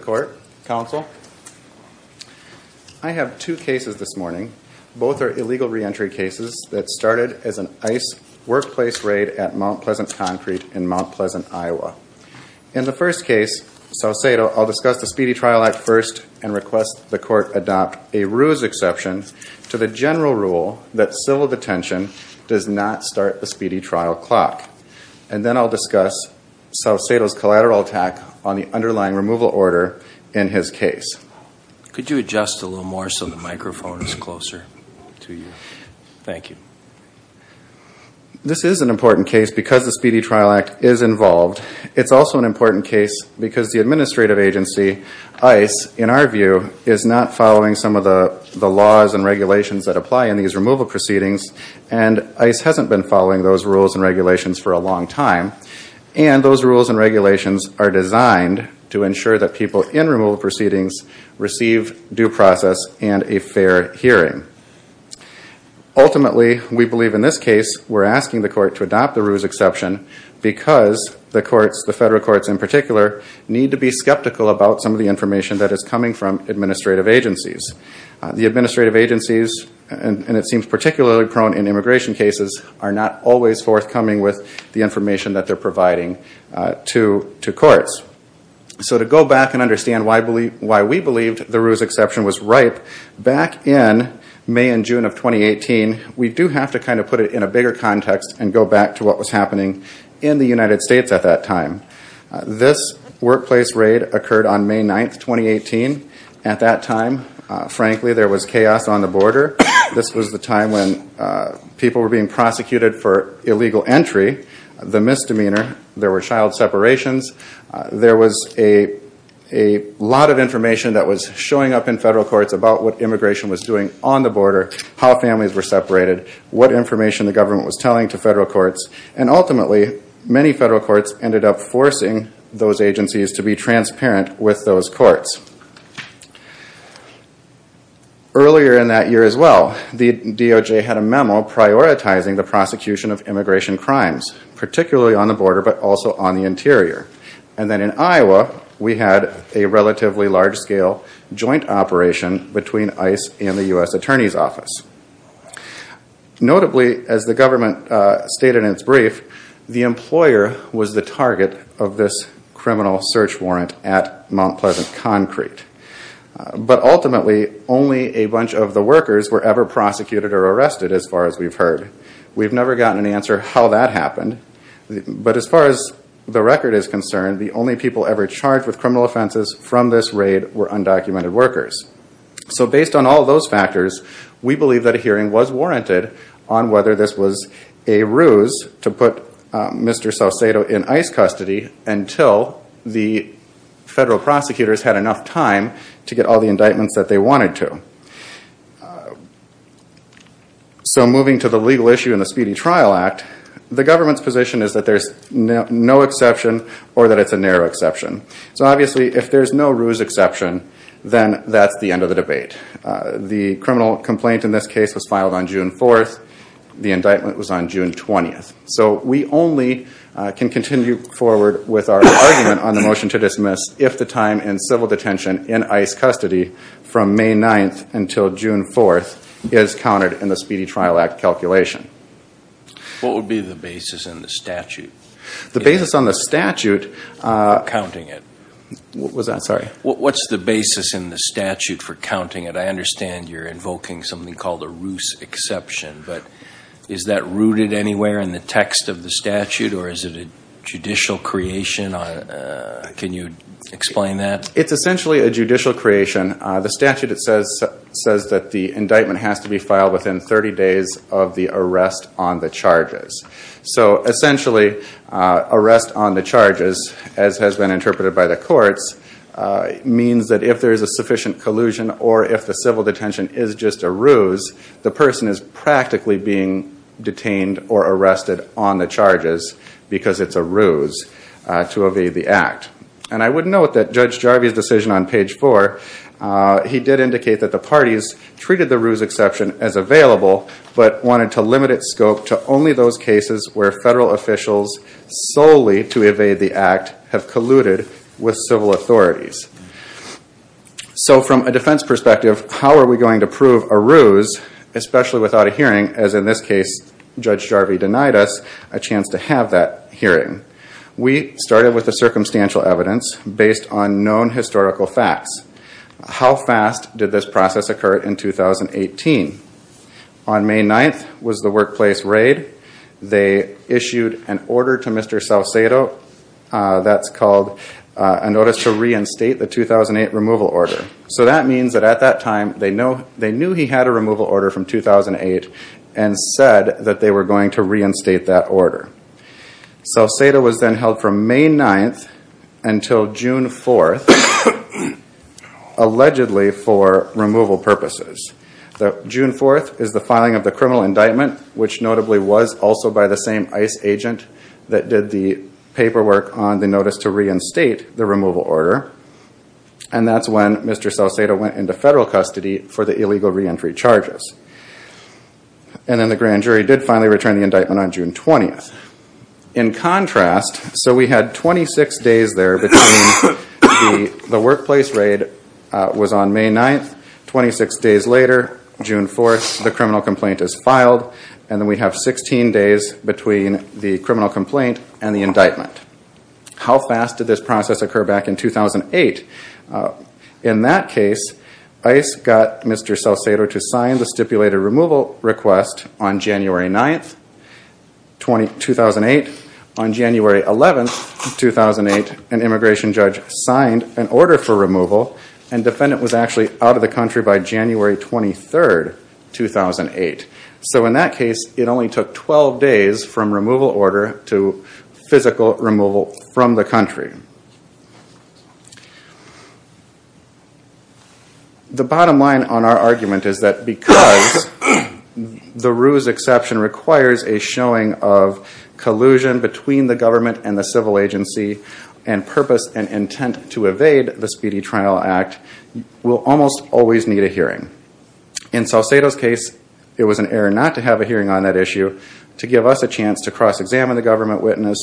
I have two cases this morning. Both are illegal reentry cases that started as an ICE workplace raid at Mt. Pleasant Concrete in Mt. Pleasant, Iowa. In the first case, Saucedo, I'll discuss the Speedy Trial Act first and request the court adopt a RUES exception to the general rule that civil detention does not start the Speedy Trial Clock. And then I'll discuss Saucedo's collateral attack on the underlying removal order in his case. Could you adjust a little more so the microphone is closer to you? Thank you. This is an important case because the Speedy Trial Act is involved. It's also an important case because the administrative agency, ICE, in our view, is not following some of the laws and regulations that apply in these removal proceedings. And ICE hasn't been following those rules and regulations for a long time. And those rules and regulations are designed to ensure that people in removal proceedings receive due process and a fair hearing. Ultimately, we believe in this case, we're asking the court to adopt the RUES exception because the courts, the federal courts in particular, need to be skeptical about some of the information that is coming from administrative agencies. The administrative agencies, and it seems particularly prone in immigration cases, are not always forthcoming with the information that they're providing to courts. So to go back and understand why we believed the RUES exception was ripe, back in May and June of 2018, we do have to kind of put it in a bigger context and go back to what was happening in the United States at that time. This workplace raid occurred on May 9, 2018. At that time, frankly, there was chaos on the border. This was the time when people were being prosecuted for illegal entry, the misdemeanor. There were child separations. There was a lot of information that was showing up in federal courts about what immigration was doing on the border, how families were separated, what information the government was telling to federal courts. And ultimately, many federal courts ended up forcing those agencies to be transparent with those courts. Earlier in that year as well, the DOJ had a memo prioritizing the prosecution of immigration crimes, particularly on the border but also on the interior. And then in Iowa, we had a relatively large-scale joint operation between ICE and the U.S. Attorney's Office. Notably, as the government stated in its brief, the employer was the target of this criminal search warrant at Mount Pleasant Concrete. But ultimately, only a bunch of the workers were ever prosecuted or arrested, as far as we've heard. We've never gotten an answer how that happened. But as far as the record is concerned, the only people ever charged with criminal offenses from this raid were undocumented workers. So based on all those factors, we believe that a hearing was warranted on whether this was a ruse to put Mr. Saucedo in ICE custody until the federal prosecutors had enough time to get all the indictments that they wanted to. So moving to the legal issue in the Speedy Trial Act, the government's position is that there's no exception or that it's a narrow exception. So obviously, if there's no ruse exception, then that's the end of the debate. The criminal complaint in this case was filed on June 4th. The indictment was on June 20th. So we only can continue forward with our argument on the motion to dismiss if the time in civil detention in ICE custody from May 9th until June 4th is counted in the Speedy Trial Act calculation. What would be the basis in the statute? The basis on the statute... What's the basis in the statute for counting it? I understand you're invoking something called a ruse exception, but is that rooted anywhere in the text of the statute or is it a judicial creation? Can you explain that? It's essentially a judicial creation. The statute says that the indictment has to be filed within 30 days of the arrest on the charges. So essentially, arrest on the charges, as has been interpreted by the courts, means that if there's a sufficient collusion or if the civil detention is just a ruse, the person is practically being detained or arrested on the charges because it's a ruse to evade the act. And I would note that Judge Jarvie's decision on page 4, he did indicate that the parties treated the ruse exception as available, but wanted to limit its scope to only those cases where federal officials solely to evade the act have colluded with civil authorities. So from a defense perspective, how are we going to prove a ruse, especially without a hearing, as in this case Judge Jarvie denied us a chance to have that hearing? We started with the circumstantial evidence based on known historical facts. How fast did this process occur in 2018? On May 9th was the workplace raid. They issued an order to Mr. Saucedo that's called a notice to reinstate the 2008 removal order. So that means that at that time they knew he had a removal order from 2008 and said that they were going to reinstate that order. Saucedo was then held from May 9th until June 4th, allegedly for removal purposes. June 4th is the filing of the criminal indictment, which notably was also by the same ICE agent that did the paperwork on the notice to reinstate the removal order. And that's when Mr. Saucedo went into federal custody for the illegal reentry charges. And then the grand jury did finally return the indictment on June 20th. In contrast, so we had 26 days there between the workplace raid was on May 9th, 26 days later, June 4th, the criminal complaint is filed, and then we have 16 days between the criminal complaint and the indictment. How fast did this process occur back in 2008? In that case, ICE got Mr. Saucedo to sign the stipulated removal request on January 9th, 2008. On January 11th, 2008, an immigration judge signed an order for removal and the defendant was actually out of the country by January 23rd, 2008. So in that case, it only took 12 days from removal order to physical removal from the country. The bottom line on our argument is that because the ruse exception requires a showing of collusion between the government and the civil agency and purpose and intent to evade the Speedy Trial Act, we'll almost always need a hearing. In Saucedo's case, it was an error not to have a hearing on that issue to give us a chance to cross-examine the government witness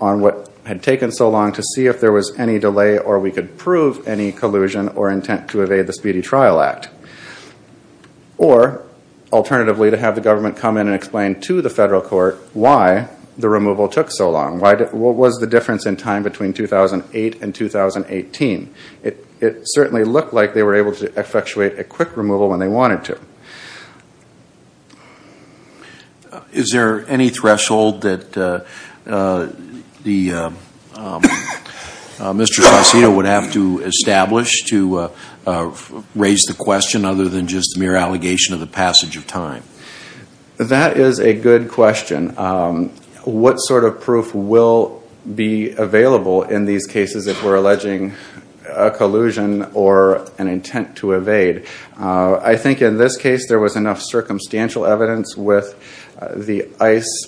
on what had taken so long to see if there was any delay or we could prove any collusion or intent to evade the Speedy Trial Act. Or, alternatively, to have the government come in and explain to the federal court why the removal took so long. What was the difference in time between 2008 and 2018? It certainly looked like they were able to effectuate a quick removal when they wanted to. Is there any threshold that Mr. Saucedo would have to establish to raise the question other than just mere allegation of the passage of time? That is a good question. What sort of proof will be available in these cases if we're alleging a collusion or an intent to evade? I think in this case there was enough circumstantial evidence with the ICE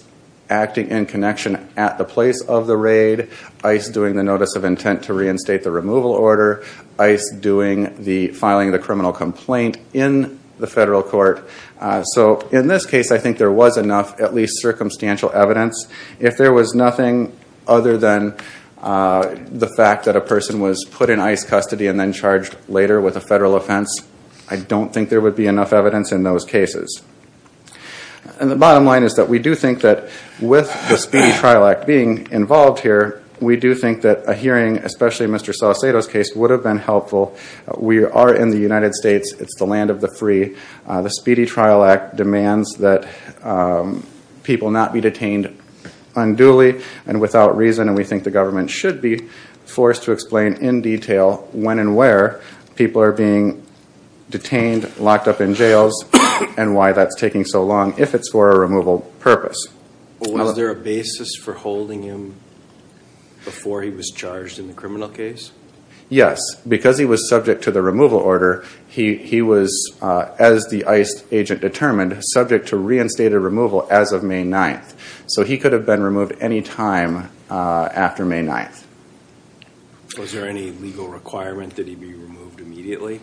acting in connection at the place of the raid. ICE doing the notice of intent to reinstate the removal order. ICE filing the criminal complaint in the federal court. In this case, I think there was enough at least circumstantial evidence. If there was nothing other than the fact that a person was put in ICE custody and then charged later with a federal offense, I don't think there would be enough evidence in those cases. The bottom line is that we do think that with the Speedy Trial Act being involved here, we do think that a hearing, especially Mr. Saucedo's case, would have been helpful. We are in the United States. It's the land of the free. The Speedy Trial Act demands that people not be detained unduly and without reason, and we think the government should be forced to explain in detail when and where people are being detained, locked up in jails, and why that's taking so long if it's for a removal purpose. Was there a basis for holding him before he was charged in the criminal case? Yes. Because he was subject to the removal order, he was, as the ICE agent determined, subject to reinstated removal as of May 9th. So he could have been removed any time after May 9th. Was there any legal requirement that he be removed immediately?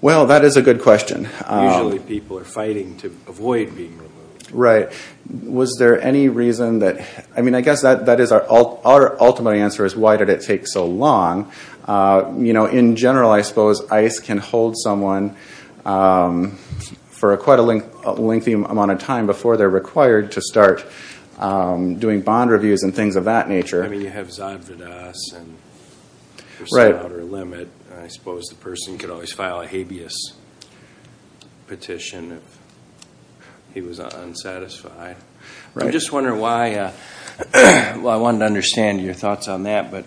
Well, that is a good question. Usually people are fighting to avoid being removed. Right. Was there any reason that—I guess our ultimate answer is why did it take so long? In general, I suppose ICE can hold someone for quite a lengthy amount of time before they're required to start doing bond reviews and things of that nature. I mean, you have Zad Vadas and there's no outer limit. I suppose the person could always file a habeas petition if he was unsatisfied. I'm just wondering why—well, I wanted to understand your thoughts on that, but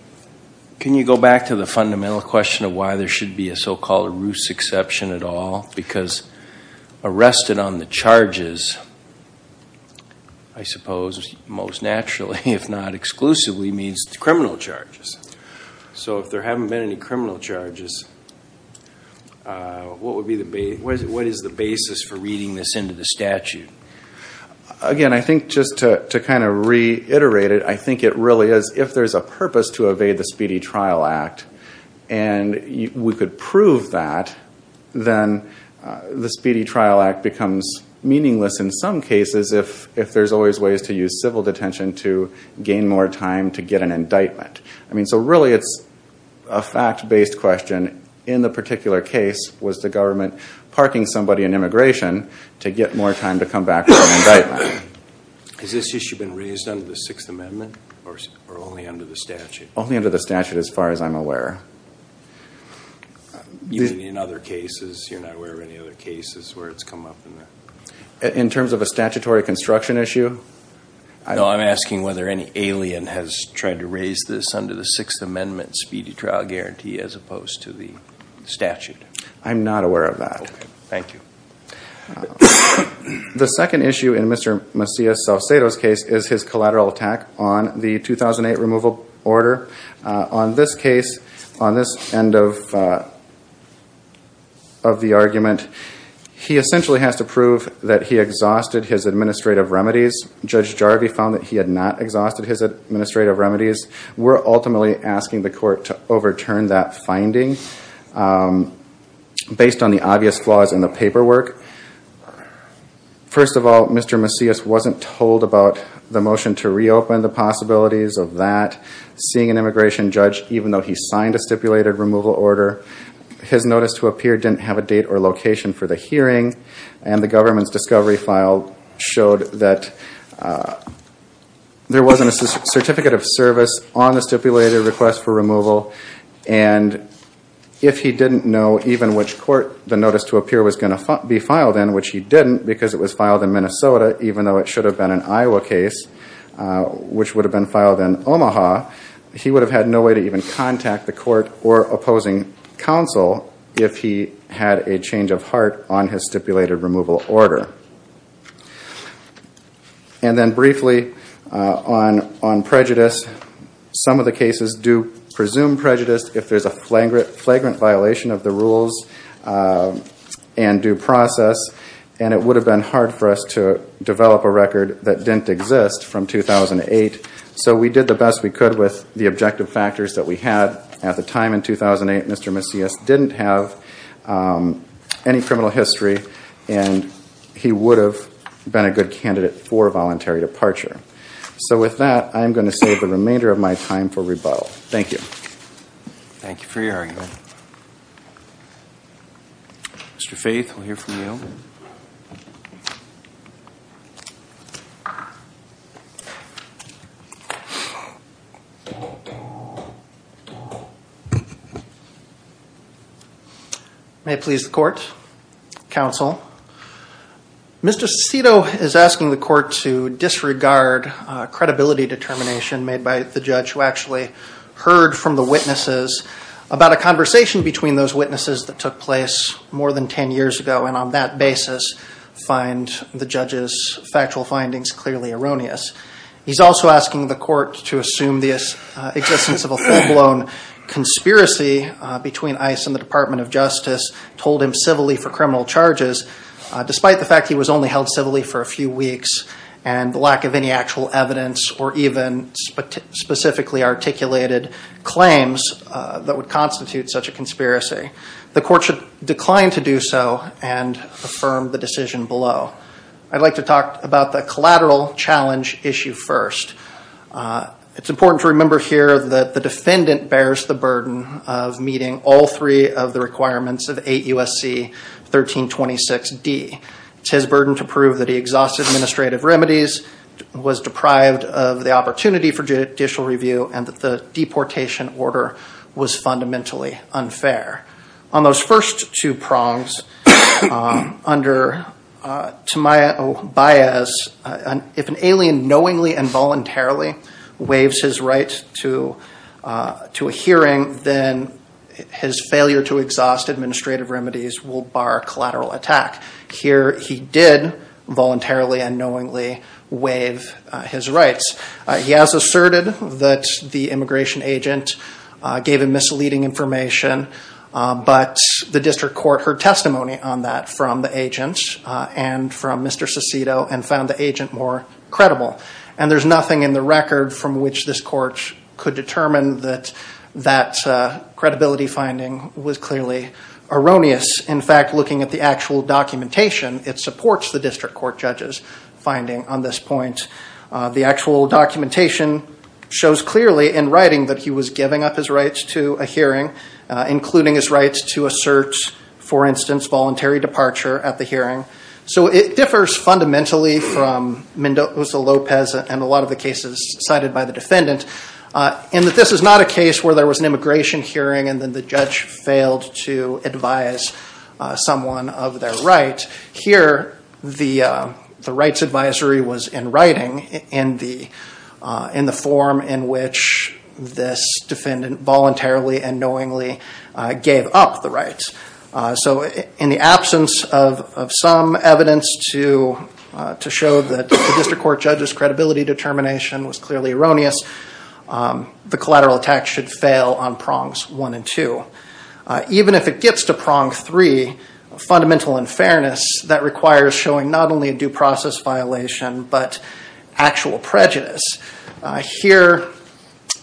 can you go back to the fundamental question of why there should be a so-called ruse exception at all? Because arrested on the charges, I suppose, most naturally, if not exclusively, means criminal charges. So if there haven't been any criminal charges, what is the basis for reading this into the statute? Again, I think just to kind of reiterate it, I think it really is if there's a purpose to evade the Speedy Trial Act and we could prove that, then the Speedy Trial Act becomes meaningless in some cases if there's always ways to use civil detention to gain more time to get an indictment. I mean, so really it's a fact-based question. In the particular case, was the government parking somebody in immigration to get more time to come back for an indictment? Has this issue been raised under the Sixth Amendment or only under the statute? Only under the statute as far as I'm aware. Even in other cases, you're not aware of any other cases where it's come up? In terms of a statutory construction issue? No, I'm asking whether any alien has tried to raise this under the Sixth Amendment Speedy Trial Guarantee as opposed to the statute. I'm not aware of that. Okay. Thank you. The second issue in Mr. Macias Salcedo's case is his collateral attack on the 2008 removal order. On this case, on this end of the argument, he essentially has to prove that he exhausted his administrative remedies. Judge Jarvie found that he had not exhausted his administrative remedies. We're ultimately asking the court to overturn that finding based on the obvious flaws in the paperwork. First of all, Mr. Macias wasn't told about the motion to reopen, the possibilities of that. Seeing an immigration judge, even though he signed a stipulated removal order, his notice to appear didn't have a date or location for the hearing. And the government's discovery file showed that there wasn't a certificate of service on the stipulated request for removal. And if he didn't know even which court the notice to appear was going to be filed in, which he didn't because it was filed in Minnesota, even though it should have been an Iowa case, which would have been filed in Omaha, he would have had no way to even contact the court or opposing counsel if he had a change of heart on his stipulated removal order. And then briefly on prejudice, some of the cases do presume prejudice if there's a flagrant violation of the rules and due process. And it would have been hard for us to develop a record that didn't exist from 2008. So we did the best we could with the objective factors that we had. At the time in 2008, Mr. Macias didn't have any criminal history and he would have been a good candidate for voluntary departure. So with that, I'm going to save the remainder of my time for rebuttal. Thank you. Thank you for your argument. Mr. Faith, we'll hear from you. May it please the court, counsel. Mr. Cito is asking the court to disregard credibility determination made by the judge who actually heard from the witnesses about a conversation between those witnesses that took place more than 10 years ago. And on that basis, find the judge's factual findings clearly erroneous. He's also asking the court to assume the existence of a full-blown conspiracy between ICE and the Department of Justice, told him civilly for criminal charges, despite the fact he was only held civilly for a few weeks and the lack of any actual evidence or even specifically articulated claims that would constitute such a conspiracy. The court should decline to do so and affirm the decision below. I'd like to talk about the collateral challenge issue first. It's important to remember here that the defendant bears the burden of meeting all three of the requirements of 8 U.S.C. 1326D. It's his burden to prove that he exhausted administrative remedies, was deprived of the opportunity for judicial review, and that the deportation order was fundamentally unfair. On those first two prongs, under Tamayo Baez, if an alien knowingly and voluntarily waives his right to a hearing, then his failure to exhaust administrative remedies will bar collateral attack. Here he did voluntarily and knowingly waive his rights. He has asserted that the immigration agent gave him misleading information, but the district court heard testimony on that from the agent and from Mr. Cicito and found the agent more credible. And there's nothing in the record from which this court could determine that that credibility finding was clearly erroneous. In fact, looking at the actual documentation, it supports the district court judge's finding on this point. The actual documentation shows clearly in writing that he was giving up his rights to a hearing, including his rights to assert, for instance, voluntary departure at the hearing. So it differs fundamentally from Mendoza-Lopez and a lot of the cases cited by the defendant in that this is not a case where there was an immigration hearing and then the judge failed to advise someone of their right. Here the rights advisory was in writing in the form in which this defendant voluntarily and knowingly gave up the rights. So in the absence of some evidence to show that the district court judge's credibility determination was clearly erroneous, the collateral attack should fail on prongs one and two. Even if it gets to prong three, fundamental unfairness, that requires showing not only a due process violation, but actual prejudice. Here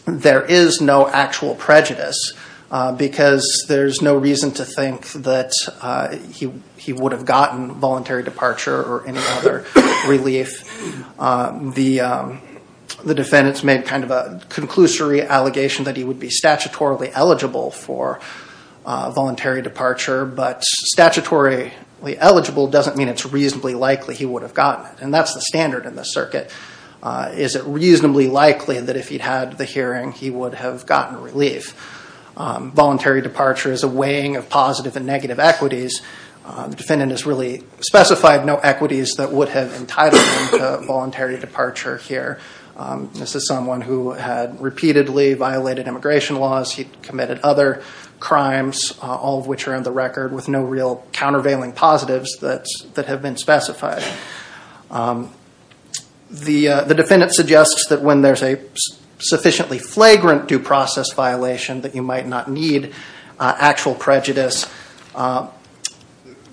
there is no actual prejudice because there's no reason to think that he would have gotten voluntary departure or any other relief. The defendants made kind of a conclusory allegation that he would be statutorily eligible for voluntary departure, but statutorily eligible doesn't mean it's reasonably likely he would have gotten it. And that's the standard in this circuit. Is it reasonably likely that if he'd had the hearing he would have gotten relief? Voluntary departure is a weighing of positive and negative equities. The defendant has really specified no equities that would have entitled him to voluntary departure here. This is someone who had repeatedly violated immigration laws. He'd committed other crimes, all of which are on the record with no real countervailing positives that have been specified. The defendant suggests that when there's a sufficiently flagrant due process violation that you might not need actual prejudice.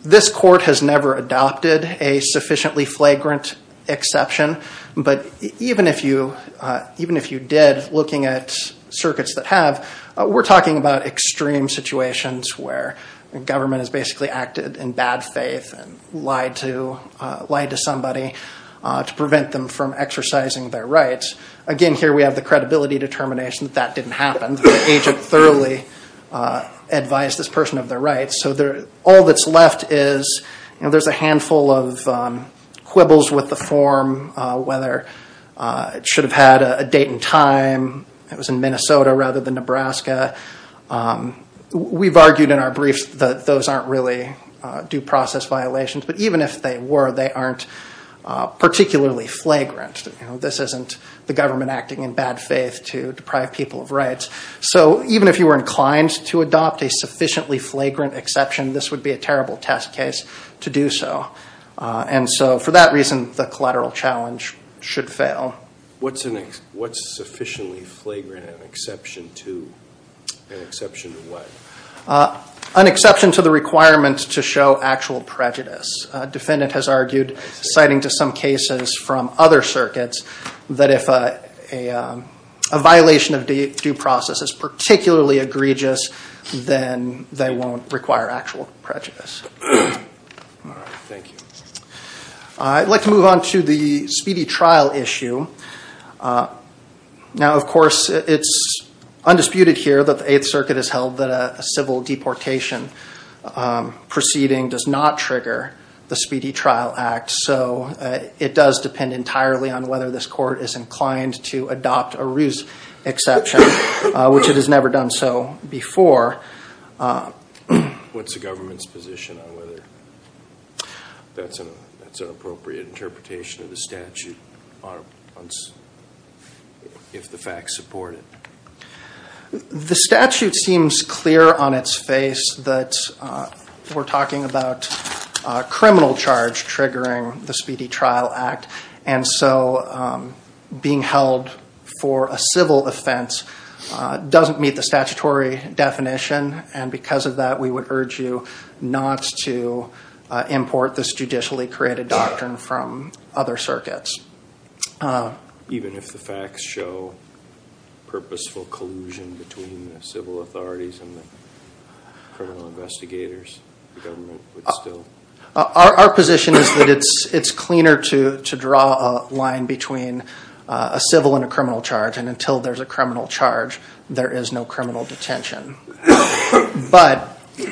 This court has never adopted a sufficiently flagrant exception, but even if you did, looking at circuits that have, we're talking about extreme situations where the government has basically acted in bad faith and lied to somebody to prevent them from exercising their rights. Again, here we have the credibility determination that that didn't happen. The agent thoroughly advised this person of their rights. So all that's left is there's a handful of quibbles with the form, whether it should have had a date and time, it was in Minnesota rather than Nebraska. We've argued in our briefs that those aren't really due process violations, but even if they were, they aren't particularly flagrant. This isn't the government acting in bad faith to deprive people of rights. So even if you were inclined to adopt a sufficiently flagrant exception, this would be a terrible test case to do so. And so for that reason, the collateral challenge should fail. What's sufficiently flagrant an exception to? An exception to what? An exception to the requirement to show actual prejudice. A defendant has argued, citing to some cases from other circuits, that if a violation of due process is particularly egregious, then they won't require actual prejudice. I'd like to move on to the speedy trial issue. Now, of course, it's undisputed here that the Eighth Circuit has held that a civil deportation proceeding does not trigger the Speedy Trial Act, so it does depend entirely on whether this court is inclined to adopt a ruse exception, which it has never done so before. What's the government's position on whether that's an appropriate interpretation of the statute if the facts support it? The statute seems clear on its face that we're talking about a criminal charge triggering the Speedy Trial Act, and so being held for a civil offense doesn't meet the statutory definition. And because of that, we would urge you not to import this judicially created doctrine from other circuits. Even if the facts show purposeful collusion between the civil authorities and the criminal investigators, the government would still... Our position is that it's cleaner to draw a line between a civil and a criminal charge, and until there's a criminal charge, there is no criminal detention. But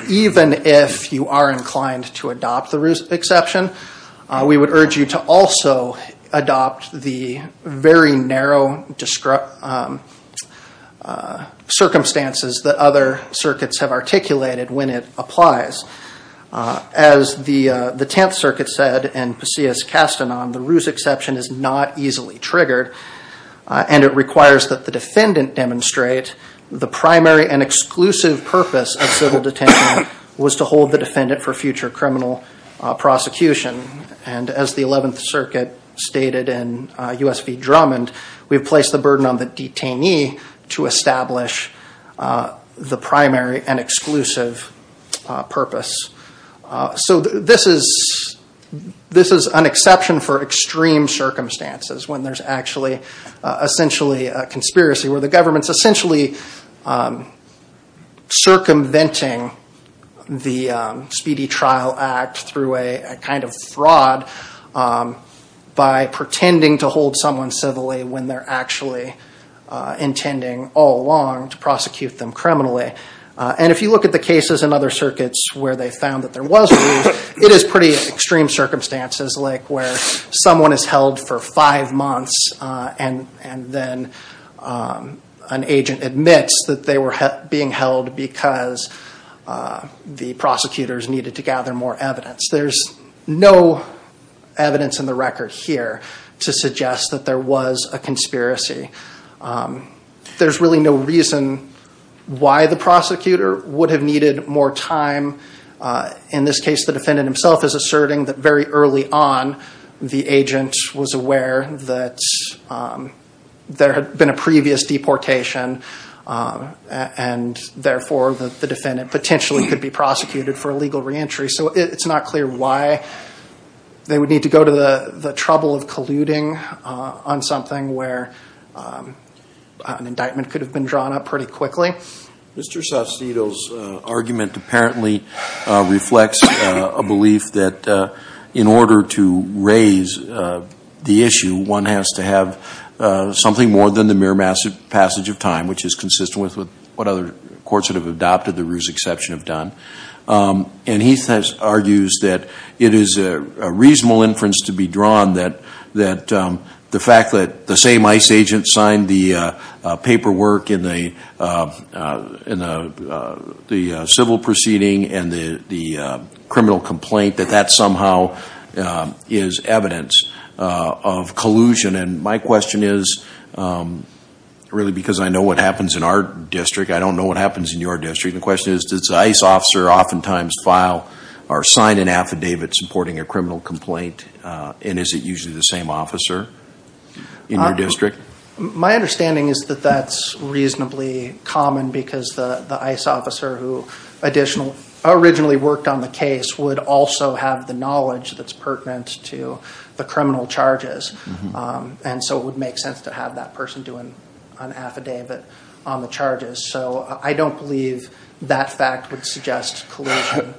even if you are inclined to adopt the ruse exception, we would urge you to also adopt the very narrow circumstances that other circuits have articulated when it applies. As the Tenth Circuit said, and Pasillas Castanon, the ruse exception is not easily triggered, and it requires that the defendant demonstrate the primary and exclusive purpose of civil detention was to hold the defendant for future criminal prosecution. And as the Eleventh Circuit stated in U.S. v. Drummond, we've placed the burden on the detainee to establish the primary and exclusive purpose. So this is an exception for extreme circumstances when there's actually essentially a conspiracy where the government's essentially circumventing the Speedy Trial Act through a kind of fraud by pretending to hold someone civilly when they're actually intending all along to prosecute them criminally. And if you look at the cases in other circuits where they found that there was a ruse, it is pretty extreme circumstances like where someone is held for five months and then an agent admits that they were being held because the prosecutors needed to gather more evidence. There's no evidence in the record here to suggest that there was a conspiracy. There's really no reason why the prosecutor would have needed more time. In this case, the defendant himself is asserting that very early on the agent was aware that there had been a previous deportation, and therefore the defendant potentially could be prosecuted for a legal reentry. So it's not clear why they would need to go to the trouble of colluding on something where an indictment could have been drawn up pretty quickly. Mr. Saucedo's argument apparently reflects a belief that in order to raise the issue, one has to have something more than the mere passage of time, which is consistent with what other courts that have adopted the ruse exception have done. And he argues that it is a reasonable inference to be drawn that the fact that the same ICE agent signed the paperwork in the civil proceeding and the criminal complaint, that that somehow is evidence of collusion and my question is, really because I know what happens in our district, I don't know what happens in your district, the question is, does the ICE officer oftentimes file or sign an affidavit supporting a criminal complaint and is it usually the same officer in your district? My understanding is that that's reasonably common because the ICE officer who originally worked on the case would also have the knowledge that's pertinent to the criminal charges. And so it would make sense to have that person do an affidavit on the charges. So I don't believe that fact would suggest collusion.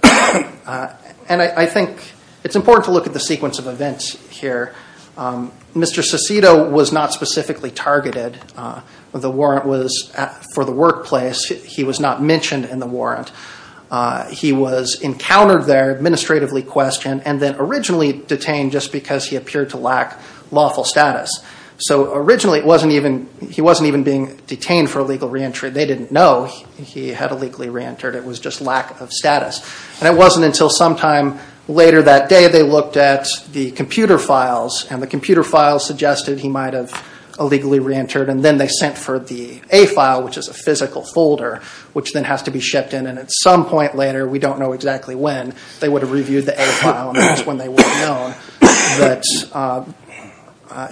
And I think it's important to look at the sequence of events here. Mr. Saucedo was not specifically targeted. The warrant was for the workplace. He was not mentioned in the warrant. He was encountered there, administratively questioned, and then originally detained just because he appeared to lack lawful status. He wasn't even being detained for illegal reentry. They didn't know he had illegally reentered. It was just lack of status. And it wasn't until sometime later that day they looked at the computer files and the computer files suggested he might have illegally reentered and then they sent for the A file, which is a physical folder, which then has to be shipped in. And at some point later, we don't know exactly when, they would have reviewed the A file and that's when they would have known that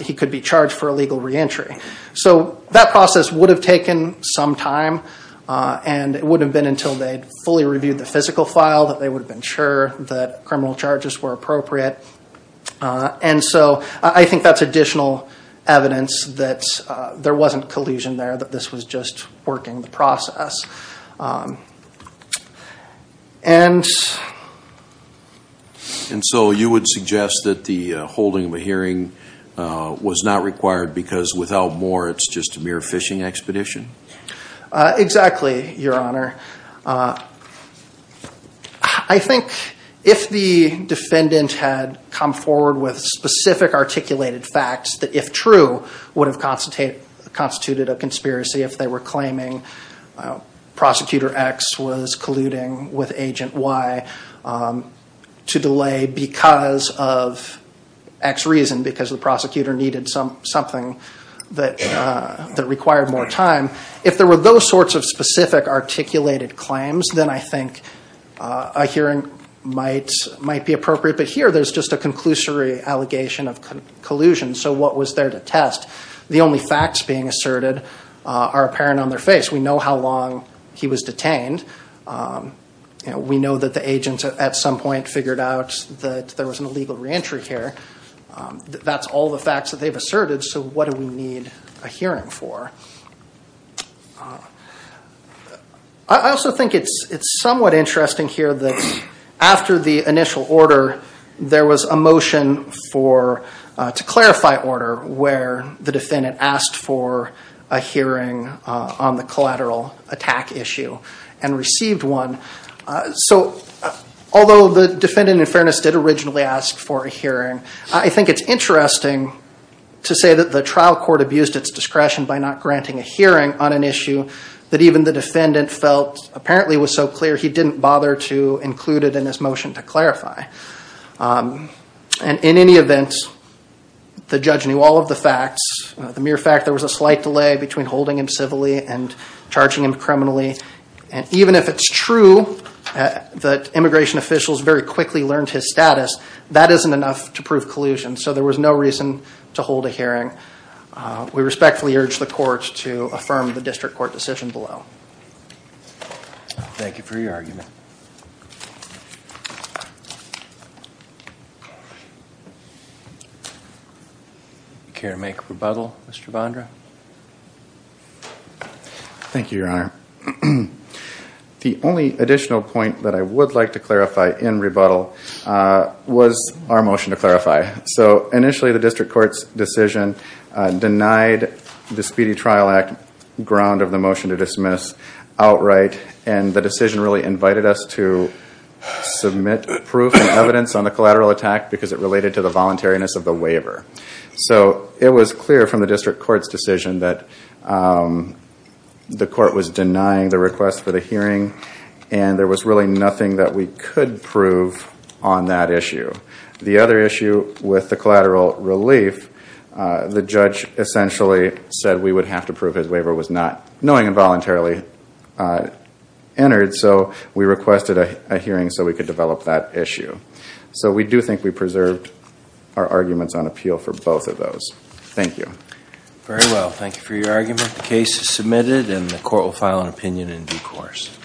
he could be charged for illegal reentry. So that process would have taken some time and it wouldn't have been until they fully reviewed the physical file that they would have been sure that criminal charges were appropriate. And so I think that's additional evidence that there wasn't collusion there, that this was just working the process. And... And so you would suggest that the holding of a hearing was not required because without more it's just a mere phishing expedition? Exactly, Your Honor. I think if the defendant had come forward with specific articulated facts that, if true, would have constituted a conspiracy if they were claiming Prosecutor X was colluding with Agent Y to delay because of X reason, because the If there were those sorts of specific articulated claims, then I think a hearing might be appropriate. But here, there's just a conclusory allegation of collusion. So what was there to test? The only facts being asserted are apparent on their face. We know how long he was detained. We know that the agents at some point figured out that there was an illegal reentry here. That's all the facts that they've asserted. So what do we need a hearing for? I also think it's somewhat interesting here that after the initial order, there was a motion to clarify order where the defendant asked for a hearing on the collateral attack issue and received one. So although the defendant, in fairness, did originally ask for a hearing, I think it's interesting to say that the trial court abused its discretion by not granting a hearing on an issue that even the defendant felt apparently was so clear he didn't bother to include it in his motion to clarify. And in any event, the judge knew all of the facts. The mere fact there was a slight delay between holding him civilly and charging him criminally, and even if it's true that immigration officials very quickly learned his status, that isn't enough to prove collusion. So there was no reason to hold a hearing. We respectfully urge the court to affirm the district court decision below. Thank you for your argument. Care to make rebuttal, Mr. Bondra? Thank you, Your Honor. The only additional point that I would like to clarify in rebuttal was our motion to clarify. So initially the district court's decision denied the Speedy Trial Act ground of the motion to dismiss outright, and the decision really invited us to submit proof and evidence on the collateral attack because it related to the voluntariness of the waiver. It was clear from the district court's decision that the court was denying the request for the hearing, and there was really nothing that we could prove on that issue. The other issue with the collateral relief, the judge essentially said we would have to prove his waiver was not knowing involuntarily entered, so we requested a hearing so we could develop that issue. So we do think we preserved our arguments on appeal for both of those. Thank you. Very well. Thank you for your argument. The case is submitted and the court will file an opinion in due course.